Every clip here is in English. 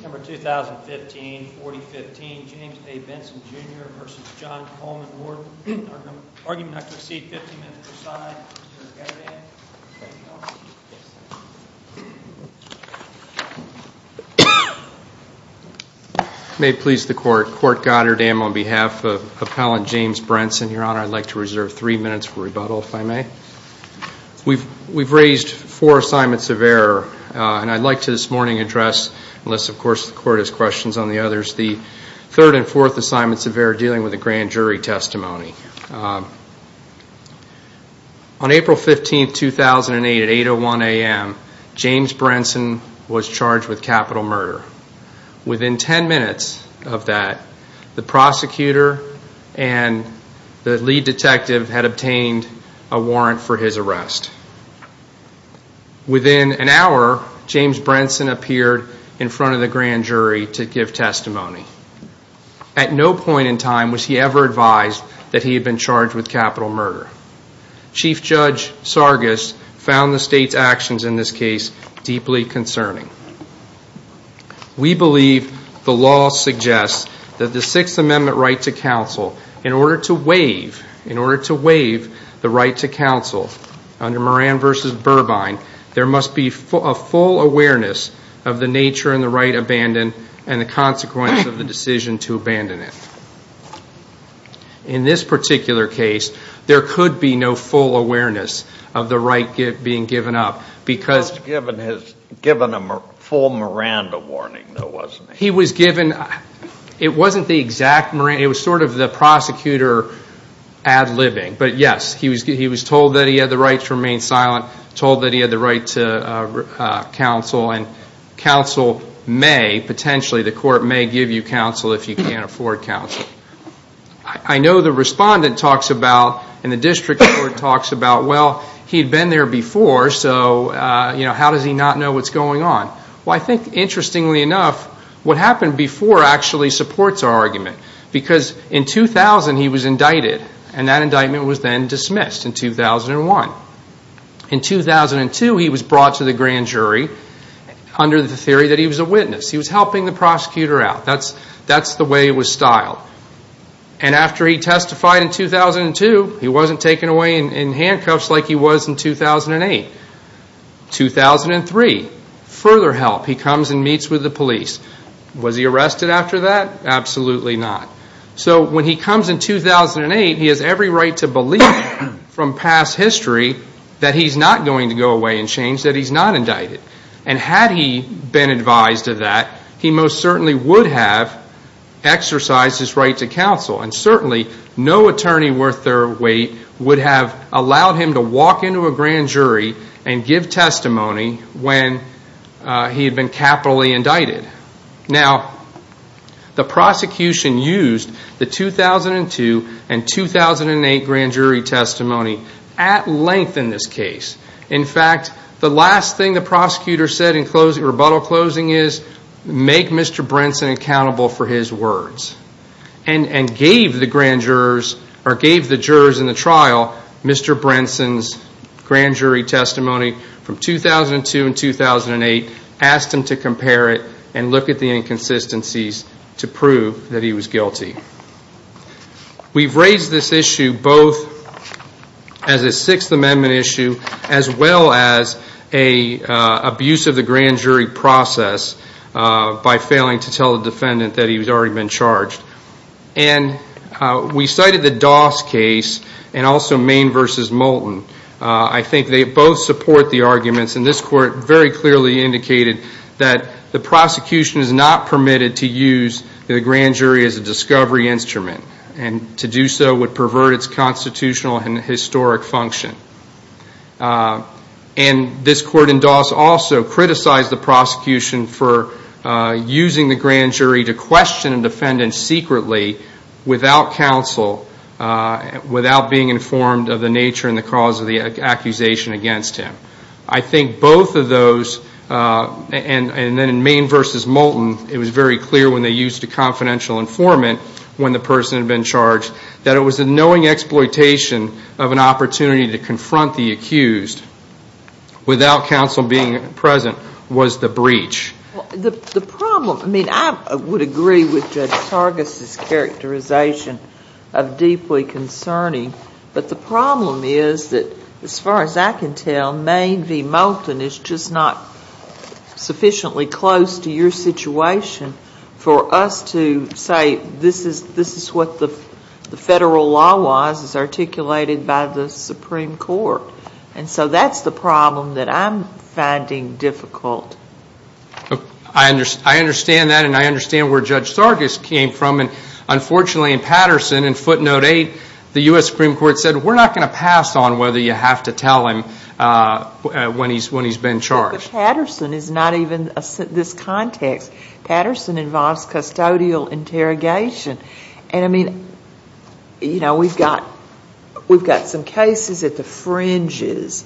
2015-2015 James A. Benson Jr v. John Coleman Warden Argument not to proceed. 15 minutes per side. May it please the Court. Court Goddard. I am on behalf of Appellant James Brenson, Your Honor. I'd like to reserve 3 minutes for rebuttal, if I may. We've raised four assignments of error, and I'd like to this morning address, unless, of course, the Court has questions on the others, the third and fourth assignments of error dealing with the grand jury testimony. On April 15, 2008, at 8.01 a.m., James Brenson was charged with capital murder. Within 10 minutes of that, the prosecutor and the lead detective had obtained a warrant for his arrest. Within an hour, James Brenson appeared in front of the grand jury to give testimony. At no point in time was he ever advised that he had been charged with capital murder. Chief Judge Sargis found the State's actions in this case deeply concerning. We believe the law suggests that the Sixth Amendment right to counsel, in order to waive the right to counsel under Moran v. Burbine, there must be a full awareness of the nature and the right abandoned, and the consequence of the decision to abandon it. In this particular case, there could be no full awareness of the right being given up because he was given a full Miranda warning, though, wasn't he? He was given, it wasn't the exact Miranda, it was sort of the prosecutor ad-libbing. But yes, he was told that he had the right to remain silent, told that he had the right to counsel, and counsel may, potentially, the Court may give you counsel if you can't afford counsel. I know the respondent talks about, and the district court talks about, well, he had been there before, so how does he not know what's going on? Well, I think, interestingly enough, what happened before actually supports our argument. Because in 2000, he was indicted, and that indictment was then dismissed in 2001. In 2002, he was brought to the grand jury under the theory that he was a witness. He was helping the prosecutor out. That's the way it was styled. And after he testified in 2002, he wasn't taken away in handcuffs like he was in 2008. 2003, further help. He comes and meets with the police. Was he arrested after that? Absolutely not. So when he comes in 2008, he has every right to believe from past history that he's not going to go away and change, that he's not indicted. And had he been advised of that, he most certainly would have exercised his right to counsel. And certainly, no attorney worth their weight would have allowed him to walk into a grand jury and give testimony when he had been capitally indicted. Now, the prosecution used the 2002 and 2008 grand jury testimony at length in this case. In fact, the last thing the prosecutor said in rebuttal closing is, make Mr. Brinson accountable for his words. And gave the jurors in the trial Mr. Brinson's grand jury testimony from 2002 and 2008, asked them to compare it and look at the inconsistencies to prove that he was guilty. We've raised this issue both as a Sixth Amendment issue as well as an abuse of the grand jury process by failing to tell the defendant that he's already been charged. And we cited the Doss case and also Main v. Moulton. I think they both support the arguments, and this court very clearly indicated that the prosecution is not permitted to use the grand jury as a discovery instrument. And to do so would pervert its constitutional and historic function. And this court in Doss also criticized the prosecution for using the grand jury to question a defendant secretly without counsel, without being informed of the nature and the cause of the accusation against him. I think both of those, and then in Main v. Moulton, it was very clear when they used a confidential informant when the person had been charged, that it was a knowing exploitation of an opportunity to confront the accused without counsel being present was the breach. The problem, I mean, I would agree with Judge Targus' characterization of deeply concerning, but the problem is that, as far as I can tell, Main v. Moulton is just not sufficiently close to your situation for us to say, this is what the federal law was as articulated by the Supreme Court. And so that's the problem that I'm finding difficult. I understand that, and I understand where Judge Targus came from. Unfortunately, in Patterson, in footnote 8, the U.S. Supreme Court said, we're not going to pass on whether you have to tell him when he's been charged. But Patterson is not even this context. Patterson involves custodial interrogation. And, I mean, you know, we've got some cases at the fringes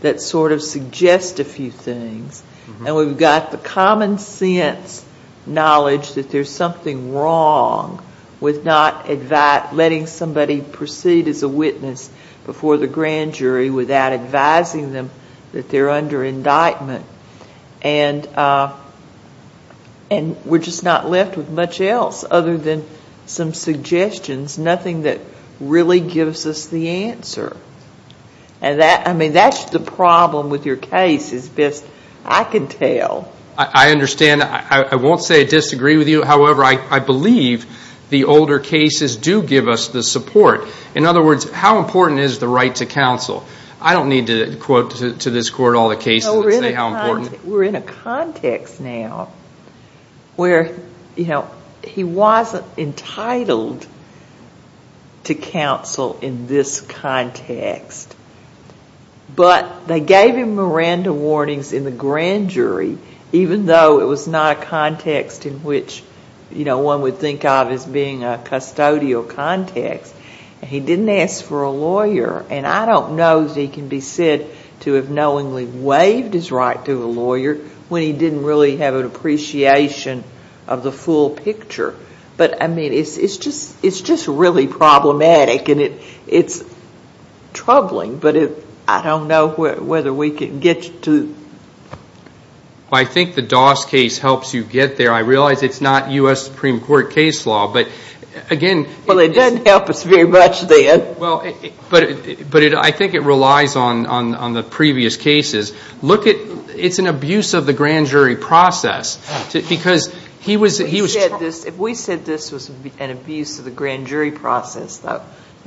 that sort of suggest a few things, and we've got the common sense knowledge that there's something wrong with not letting somebody proceed as a witness before the grand jury without advising them that they're under indictment. And we're just not left with much else other than some suggestions, nothing that really gives us the answer. And, I mean, that's the problem with your case as best I can tell. I understand. I won't say I disagree with you. However, I believe the older cases do give us the support. In other words, how important is the right to counsel? I don't need to quote to this court all the cases and say how important. We're in a context now where, you know, he wasn't entitled to counsel in this context. But they gave him Miranda warnings in the grand jury, even though it was not a context in which, you know, one would think of as being a custodial context. And he didn't ask for a lawyer. And I don't know that he can be said to have knowingly waived his right to a lawyer when he didn't really have an appreciation of the full picture. But, I mean, it's just really problematic. And it's troubling. But I don't know whether we can get to. Well, I think the Doss case helps you get there. I realize it's not U.S. Supreme Court case law. But, again. Well, it doesn't help us very much then. Well, but I think it relies on the previous cases. Look at it's an abuse of the grand jury process. Because he was. If we said this was an abuse of the grand jury process,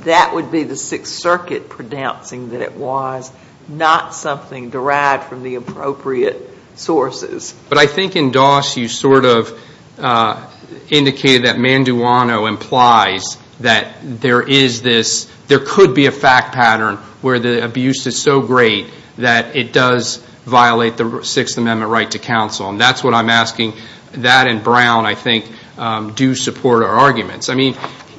that would be the Sixth Circuit pronouncing that it was not something derived from the appropriate sources. But I think in Doss you sort of indicated that Manduano implies that there is this. There could be a fact pattern where the abuse is so great that it does violate the Sixth Amendment right to counsel. And that's what I'm asking. That and Brown, I think, do support our arguments. I mean,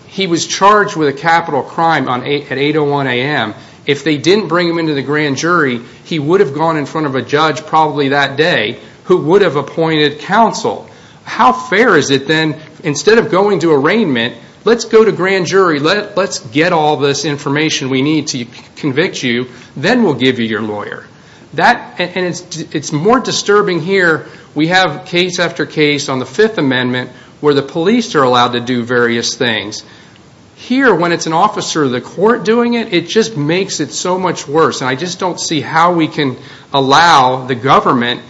he was charged with a capital crime at 8.01 a.m. If they didn't bring him into the grand jury, he would have gone in front of a judge probably that day who would have appointed counsel. How fair is it then, instead of going to arraignment, let's go to grand jury. Let's get all this information we need to convict you. Then we'll give you your lawyer. And it's more disturbing here. We have case after case on the Fifth Amendment where the police are allowed to do various things. Here, when it's an officer of the court doing it, it just makes it so much worse. And I just don't see how we can allow the government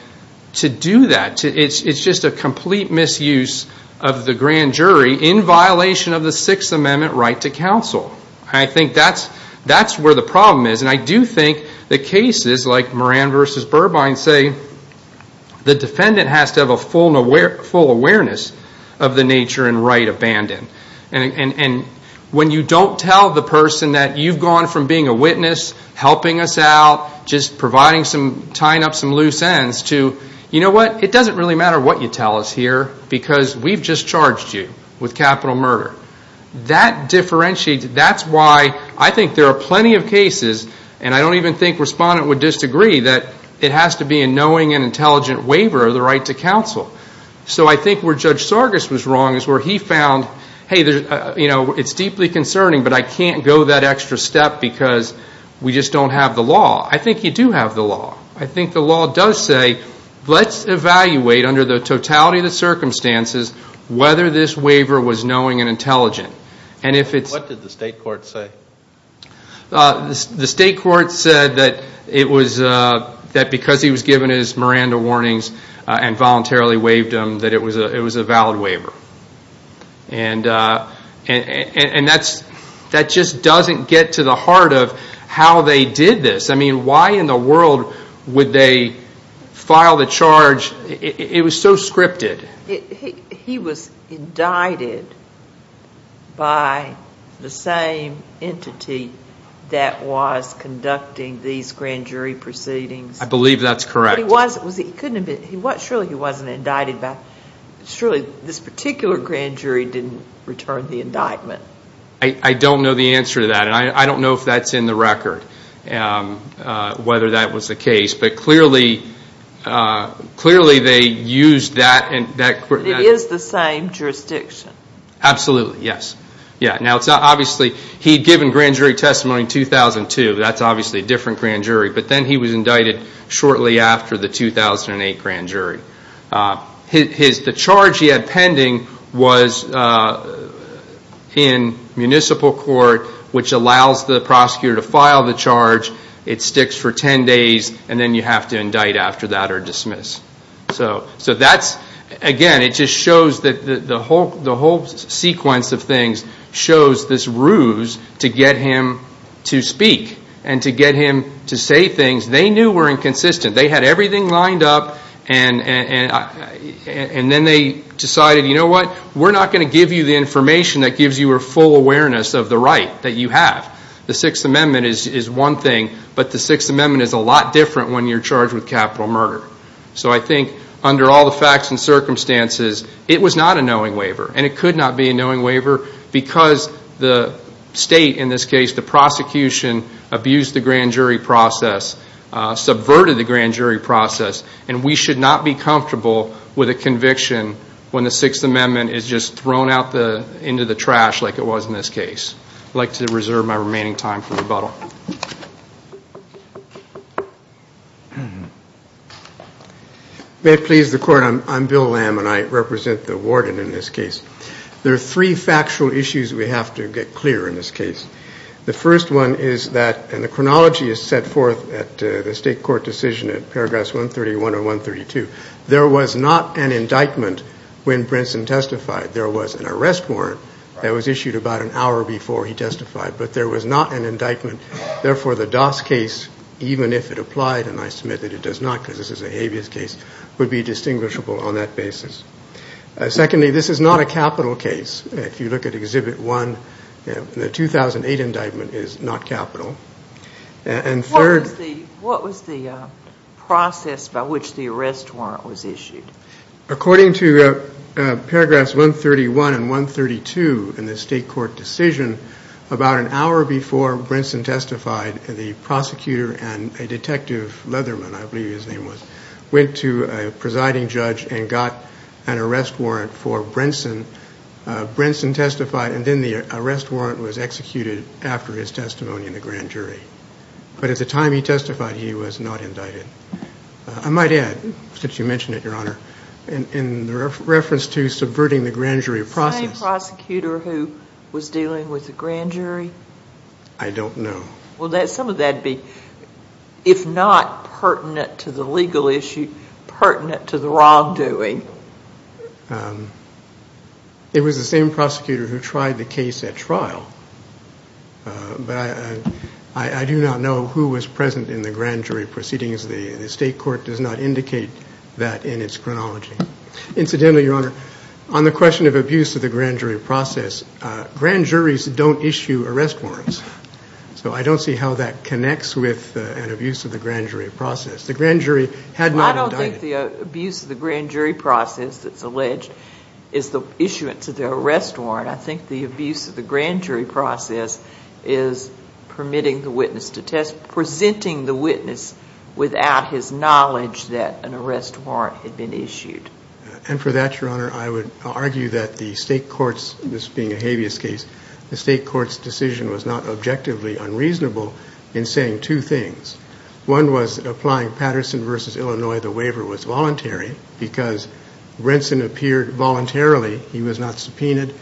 to do that. It's just a complete misuse of the grand jury in violation of the Sixth Amendment right to counsel. I think that's where the problem is. And I do think that cases like Moran v. Burbine say the defendant has to have a full awareness of the nature and right abandoned. And when you don't tell the person that you've gone from being a witness, helping us out, just tying up some loose ends to, you know what, it doesn't really matter what you tell us here because we've just charged you with capital murder. That differentiates. That's why I think there are plenty of cases, and I don't even think respondent would disagree, that it has to be a knowing and intelligent waiver of the right to counsel. So I think where Judge Sargis was wrong is where he found, hey, you know, it's deeply concerning, but I can't go that extra step because we just don't have the law. I think you do have the law. I think the law does say let's evaluate under the totality of the circumstances whether this waiver was knowing and intelligent. What did the state court say? The state court said that because he was given his Miranda warnings and voluntarily waived them, that it was a valid waiver. And that just doesn't get to the heart of how they did this. I mean, why in the world would they file the charge? It was so scripted. He was indicted by the same entity that was conducting these grand jury proceedings. I believe that's correct. Surely he wasn't indicted. Surely this particular grand jury didn't return the indictment. I don't know the answer to that, and I don't know if that's in the record, whether that was the case. But clearly they used that. It is the same jurisdiction. Absolutely, yes. Now, obviously, he had given grand jury testimony in 2002. That's obviously a different grand jury. But then he was indicted shortly after the 2008 grand jury. The charge he had pending was in municipal court, which allows the prosecutor to file the charge. It sticks for 10 days, and then you have to indict after that or dismiss. So that's, again, it just shows that the whole sequence of things shows this ruse to get him to speak and to get him to say things they knew were inconsistent. They had everything lined up, and then they decided, you know what, we're not going to give you the information that gives you a full awareness of the right that you have. The Sixth Amendment is one thing, but the Sixth Amendment is a lot different when you're charged with capital murder. So I think under all the facts and circumstances, it was not a knowing waiver, and it could not be a knowing waiver because the state, in this case, the prosecution, abused the grand jury process, subverted the grand jury process, and we should not be comfortable with a conviction when the Sixth Amendment is just thrown out into the trash like it was in this case. I'd like to reserve my remaining time for rebuttal. May it please the Court, I'm Bill Lamb, and I represent the warden in this case. There are three factual issues we have to get clear in this case. The first one is that, and the chronology is set forth at the state court decision at Paragraphs 131 and 132, there was not an indictment when Brinson testified. There was an arrest warrant that was issued about an hour before he testified, but there was not an indictment. Therefore, the Doss case, even if it applied, and I submit that it does not because this is a habeas case, would be distinguishable on that basis. Secondly, this is not a capital case. If you look at Exhibit 1, the 2008 indictment is not capital. And third — What was the process by which the arrest warrant was issued? According to Paragraphs 131 and 132 in the state court decision, about an hour before Brinson testified, the prosecutor and a detective, Leatherman, I believe his name was, went to a presiding judge and got an arrest warrant for Brinson. Brinson testified, and then the arrest warrant was executed after his testimony in the grand jury. But at the time he testified, he was not indicted. I might add, since you mentioned it, Your Honor, in reference to subverting the grand jury process — The same prosecutor who was dealing with the grand jury? I don't know. Would some of that be, if not pertinent to the legal issue, pertinent to the wrongdoing? It was the same prosecutor who tried the case at trial. But I do not know who was present in the grand jury proceedings. The state court does not indicate that in its chronology. Incidentally, Your Honor, on the question of abuse of the grand jury process, grand juries don't issue arrest warrants. So I don't see how that connects with an abuse of the grand jury process. The grand jury had not indicted — Well, I don't think the abuse of the grand jury process that's alleged is the issuance of the arrest warrant. I think the abuse of the grand jury process is permitting the witness to test — presenting the witness without his knowledge that an arrest warrant had been issued. And for that, Your Honor, I would argue that the state court's — this being a habeas case — the state court's decision was not objectively unreasonable in saying two things. One was applying Patterson v. Illinois. The waiver was voluntary because Renson appeared voluntarily. He was not subpoenaed.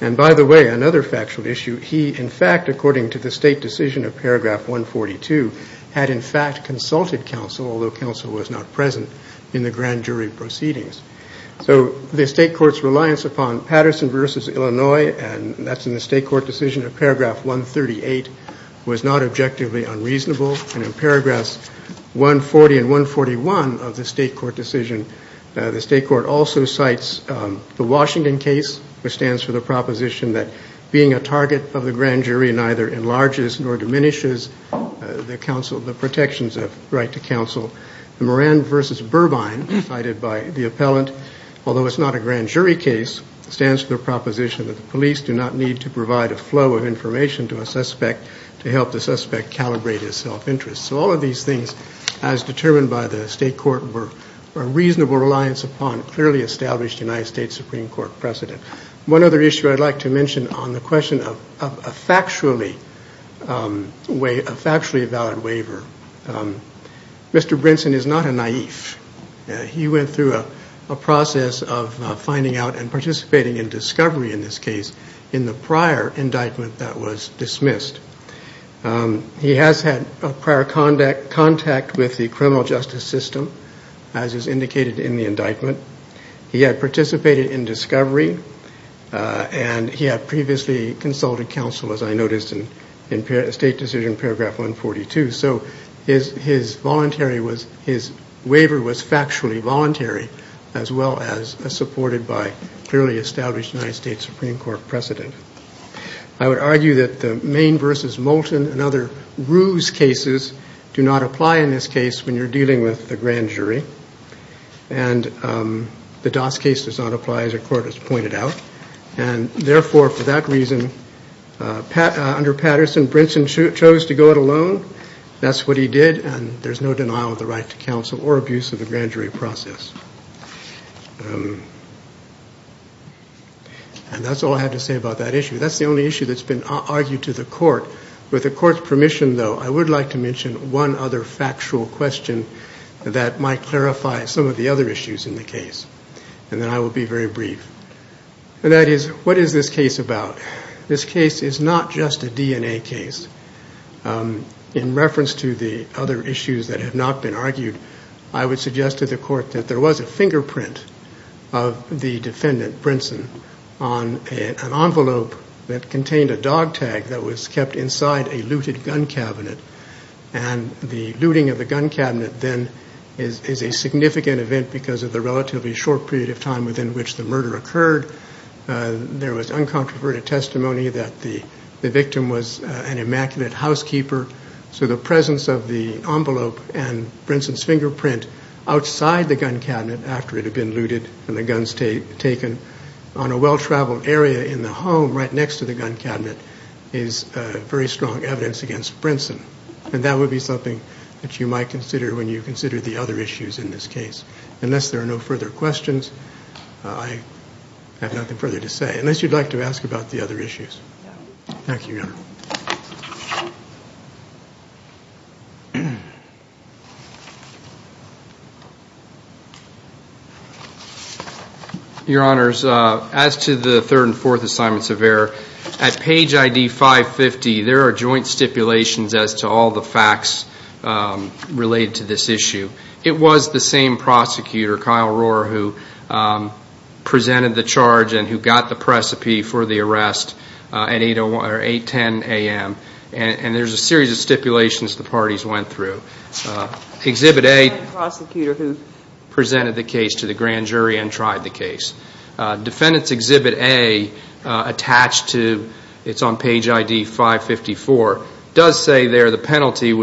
And, by the way, another factual issue, he, in fact, according to the state decision of paragraph 142, had in fact consulted counsel, although counsel was not present in the grand jury proceedings. So the state court's reliance upon Patterson v. Illinois, and that's in the state court decision of paragraph 138, was not objectively unreasonable. And in paragraphs 140 and 141 of the state court decision, the state court also cites the Washington case, which stands for the proposition that being a target of the grand jury neither enlarges nor diminishes the protections of right to counsel. The Moran v. Burbine cited by the appellant, although it's not a grand jury case, stands for the proposition that the police do not need to provide a flow of information to a suspect to help the suspect calibrate his self-interest. So all of these things, as determined by the state court, were a reasonable reliance upon clearly established United States Supreme Court precedent. One other issue I'd like to mention on the question of a factually valid waiver. Mr. Brinson is not a naïve. He went through a process of finding out and participating in discovery in this case in the prior indictment that was dismissed. He has had prior contact with the criminal justice system, as is indicated in the indictment. He had participated in discovery, and he had previously consulted counsel, as I noticed in state decision paragraph 142. So his waiver was factually voluntary, as well as supported by clearly established United States Supreme Court precedent. I would argue that the Maine v. Moulton and other ruse cases do not apply in this case when you're dealing with the grand jury. And the Doss case does not apply, as the court has pointed out. And therefore, for that reason, under Patterson, Brinson chose to go it alone. That's what he did, and there's no denial of the right to counsel or abuse of the grand jury process. And that's all I have to say about that issue. That's the only issue that's been argued to the court. With the court's permission, though, I would like to mention one other factual question that might clarify some of the other issues in the case. And then I will be very brief. And that is, what is this case about? This case is not just a DNA case. In reference to the other issues that have not been argued, I would suggest to the court that there was a fingerprint of the defendant, Brinson, on an envelope that contained a dog tag that was kept inside a looted gun cabinet. And the looting of the gun cabinet then is a significant event because of the relatively short period of time within which the murder occurred. There was uncontroverted testimony that the victim was an immaculate housekeeper. So the presence of the envelope and Brinson's fingerprint outside the gun cabinet after it had been looted and the guns taken on a well-traveled area in the home right next to the gun cabinet is very strong evidence against Brinson. And that would be something that you might consider when you consider the other issues in this case. Unless there are no further questions, I have nothing further to say. Unless you'd like to ask about the other issues. Thank you, Your Honor. Your Honors, as to the third and fourth assignments of error, at page ID 550, there are joint stipulations as to all the facts related to this issue. It was the same prosecutor, Kyle Rohrer, who presented the charge and who got the precipice for the arrest at 810 a.m. And there's a series of stipulations the parties went through. Exhibit A, the prosecutor who presented the case to the grand jury and tried the case. Defendant's Exhibit A attached to, it's on page ID 554, does say there the penalty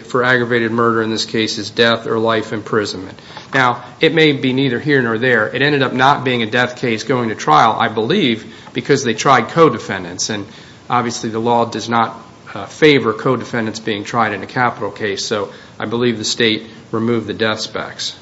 for aggravated murder in this case is death or life imprisonment. Now, it may be neither here nor there. It ended up not being a death case going to trial, I believe, because they tried co-defendants. And obviously the law does not favor co-defendants being tried in a capital case. So I believe the State removed the death specs.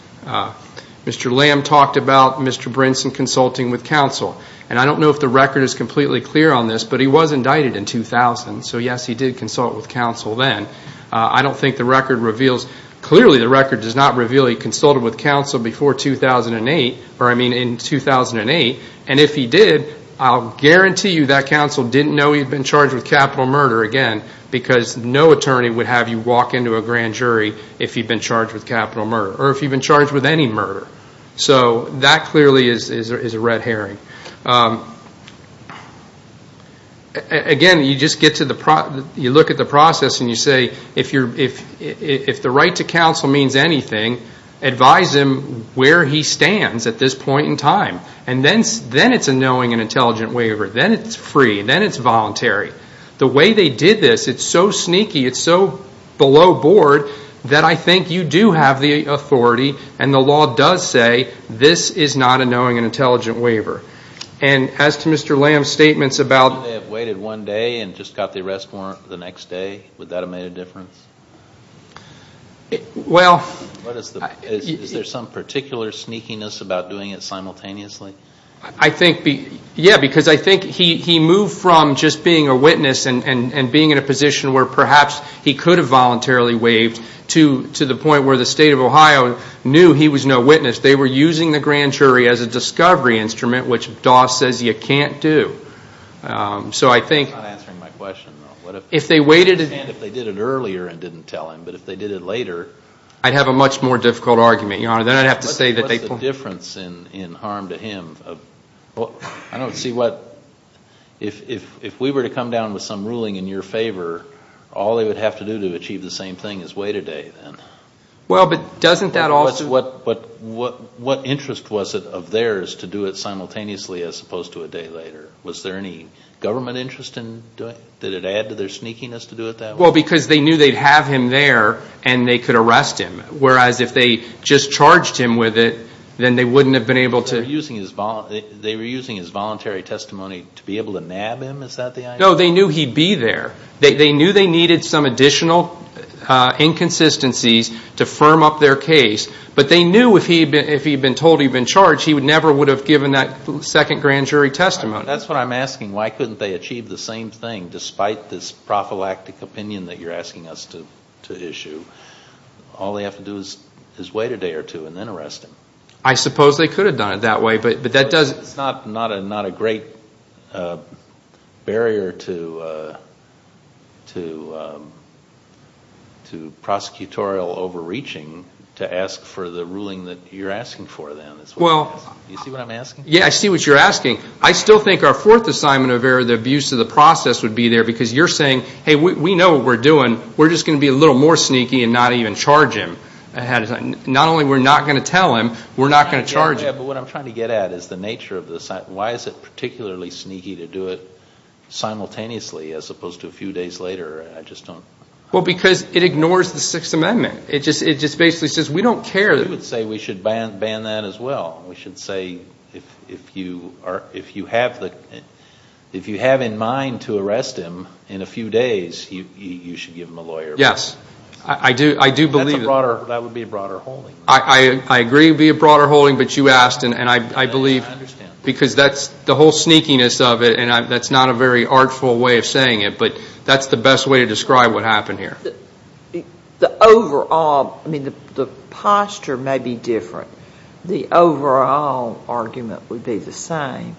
Mr. Lamb talked about Mr. Brinson consulting with counsel. And I don't know if the record is completely clear on this, but he was indicted in 2000. So yes, he did consult with counsel then. I don't think the record reveals. Clearly the record does not reveal he consulted with counsel before 2008, or I mean in 2008. And if he did, I'll guarantee you that counsel didn't know he'd been charged with capital murder again, because no attorney would have you walk into a grand jury if you'd been charged with capital murder, or if you'd been charged with any murder. So that clearly is a red herring. Again, you just get to the – you look at the process and you say, if the right to counsel means anything, advise him where he stands at this point in time. And then it's a knowing and intelligent waiver. Then it's free. Then it's voluntary. The way they did this, it's so sneaky, it's so below board, that I think you do have the authority, and the law does say this is not a knowing and intelligent waiver. And as to Mr. Lamb's statements about – If they had waited one day and just got the arrest warrant the next day, would that have made a difference? Well – Is there some particular sneakiness about doing it simultaneously? I think – yeah, because I think he moved from just being a witness and being in a position where perhaps he could have voluntarily waived to the point where the state of Ohio knew he was no witness. They were using the grand jury as a discovery instrument, which Doss says you can't do. So I think – He's not answering my question, though. If they waited – And if they did it earlier and didn't tell him. But if they did it later – I'd have a much more difficult argument, Your Honor. Then I'd have to say that they – What's the difference in harm to him? I don't see what – if we were to come down with some ruling in your favor, all they would have to do to achieve the same thing is wait a day, then. Well, but doesn't that also – What interest was it of theirs to do it simultaneously as opposed to a day later? Was there any government interest in doing it? Did it add to their sneakiness to do it that way? Well, because they knew they'd have him there and they could arrest him. Whereas if they just charged him with it, then they wouldn't have been able to – They were using his voluntary testimony to be able to nab him. Is that the idea? No, they knew he'd be there. They knew they needed some additional inconsistencies to firm up their case. But they knew if he'd been told he'd been charged, he never would have given that second grand jury testimony. That's what I'm asking. Why couldn't they achieve the same thing despite this prophylactic opinion that you're asking us to issue? All they have to do is wait a day or two and then arrest him. I suppose they could have done it that way, but that doesn't – It's not a great barrier to prosecutorial overreaching to ask for the ruling that you're asking for then. Do you see what I'm asking? Yeah, I see what you're asking. I still think our fourth assignment of error, the abuse of the process, would be there because you're saying, hey, we know what we're doing. We're just going to be a little more sneaky and not even charge him. Not only we're not going to tell him, we're not going to charge him. Yeah, but what I'm trying to get at is the nature of this. Why is it particularly sneaky to do it simultaneously as opposed to a few days later? I just don't – Well, because it ignores the Sixth Amendment. It just basically says we don't care. We would say we should ban that as well. We should say if you have in mind to arrest him in a few days, you should give him a lawyer. Yes, I do believe – That would be a broader holding. I agree it would be a broader holding, but you asked, and I believe – I understand. Because that's the whole sneakiness of it, and that's not a very artful way of saying it, but that's the best way to describe what happened here. The overall – I mean the posture may be different. The overall argument would be the same,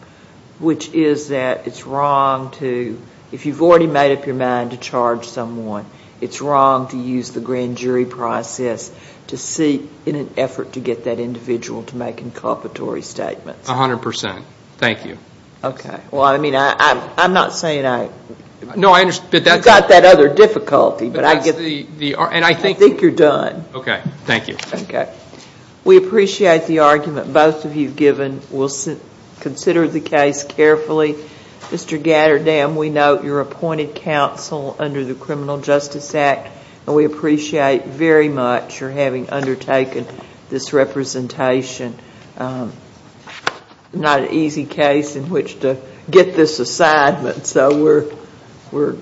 which is that it's wrong to – if you've already made up your mind to charge someone, it's wrong to use the grand jury process to seek in an effort to get that individual to make inculpatory statements. A hundred percent. Thank you. Okay. Well, I mean, I'm not saying I – No, I – You've got that other difficulty, but I get – But that's the – and I think – I think you're done. Okay. Thank you. Okay. We appreciate the argument both of you have given. We'll consider the case carefully. Mr. Gatterdam, we note your appointed counsel under the Criminal Justice Act, and we appreciate very much your having undertaken this representation. Not an easy case in which to get this assignment, so we're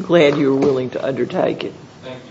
glad you were willing to undertake it. Thank you, Your Honor.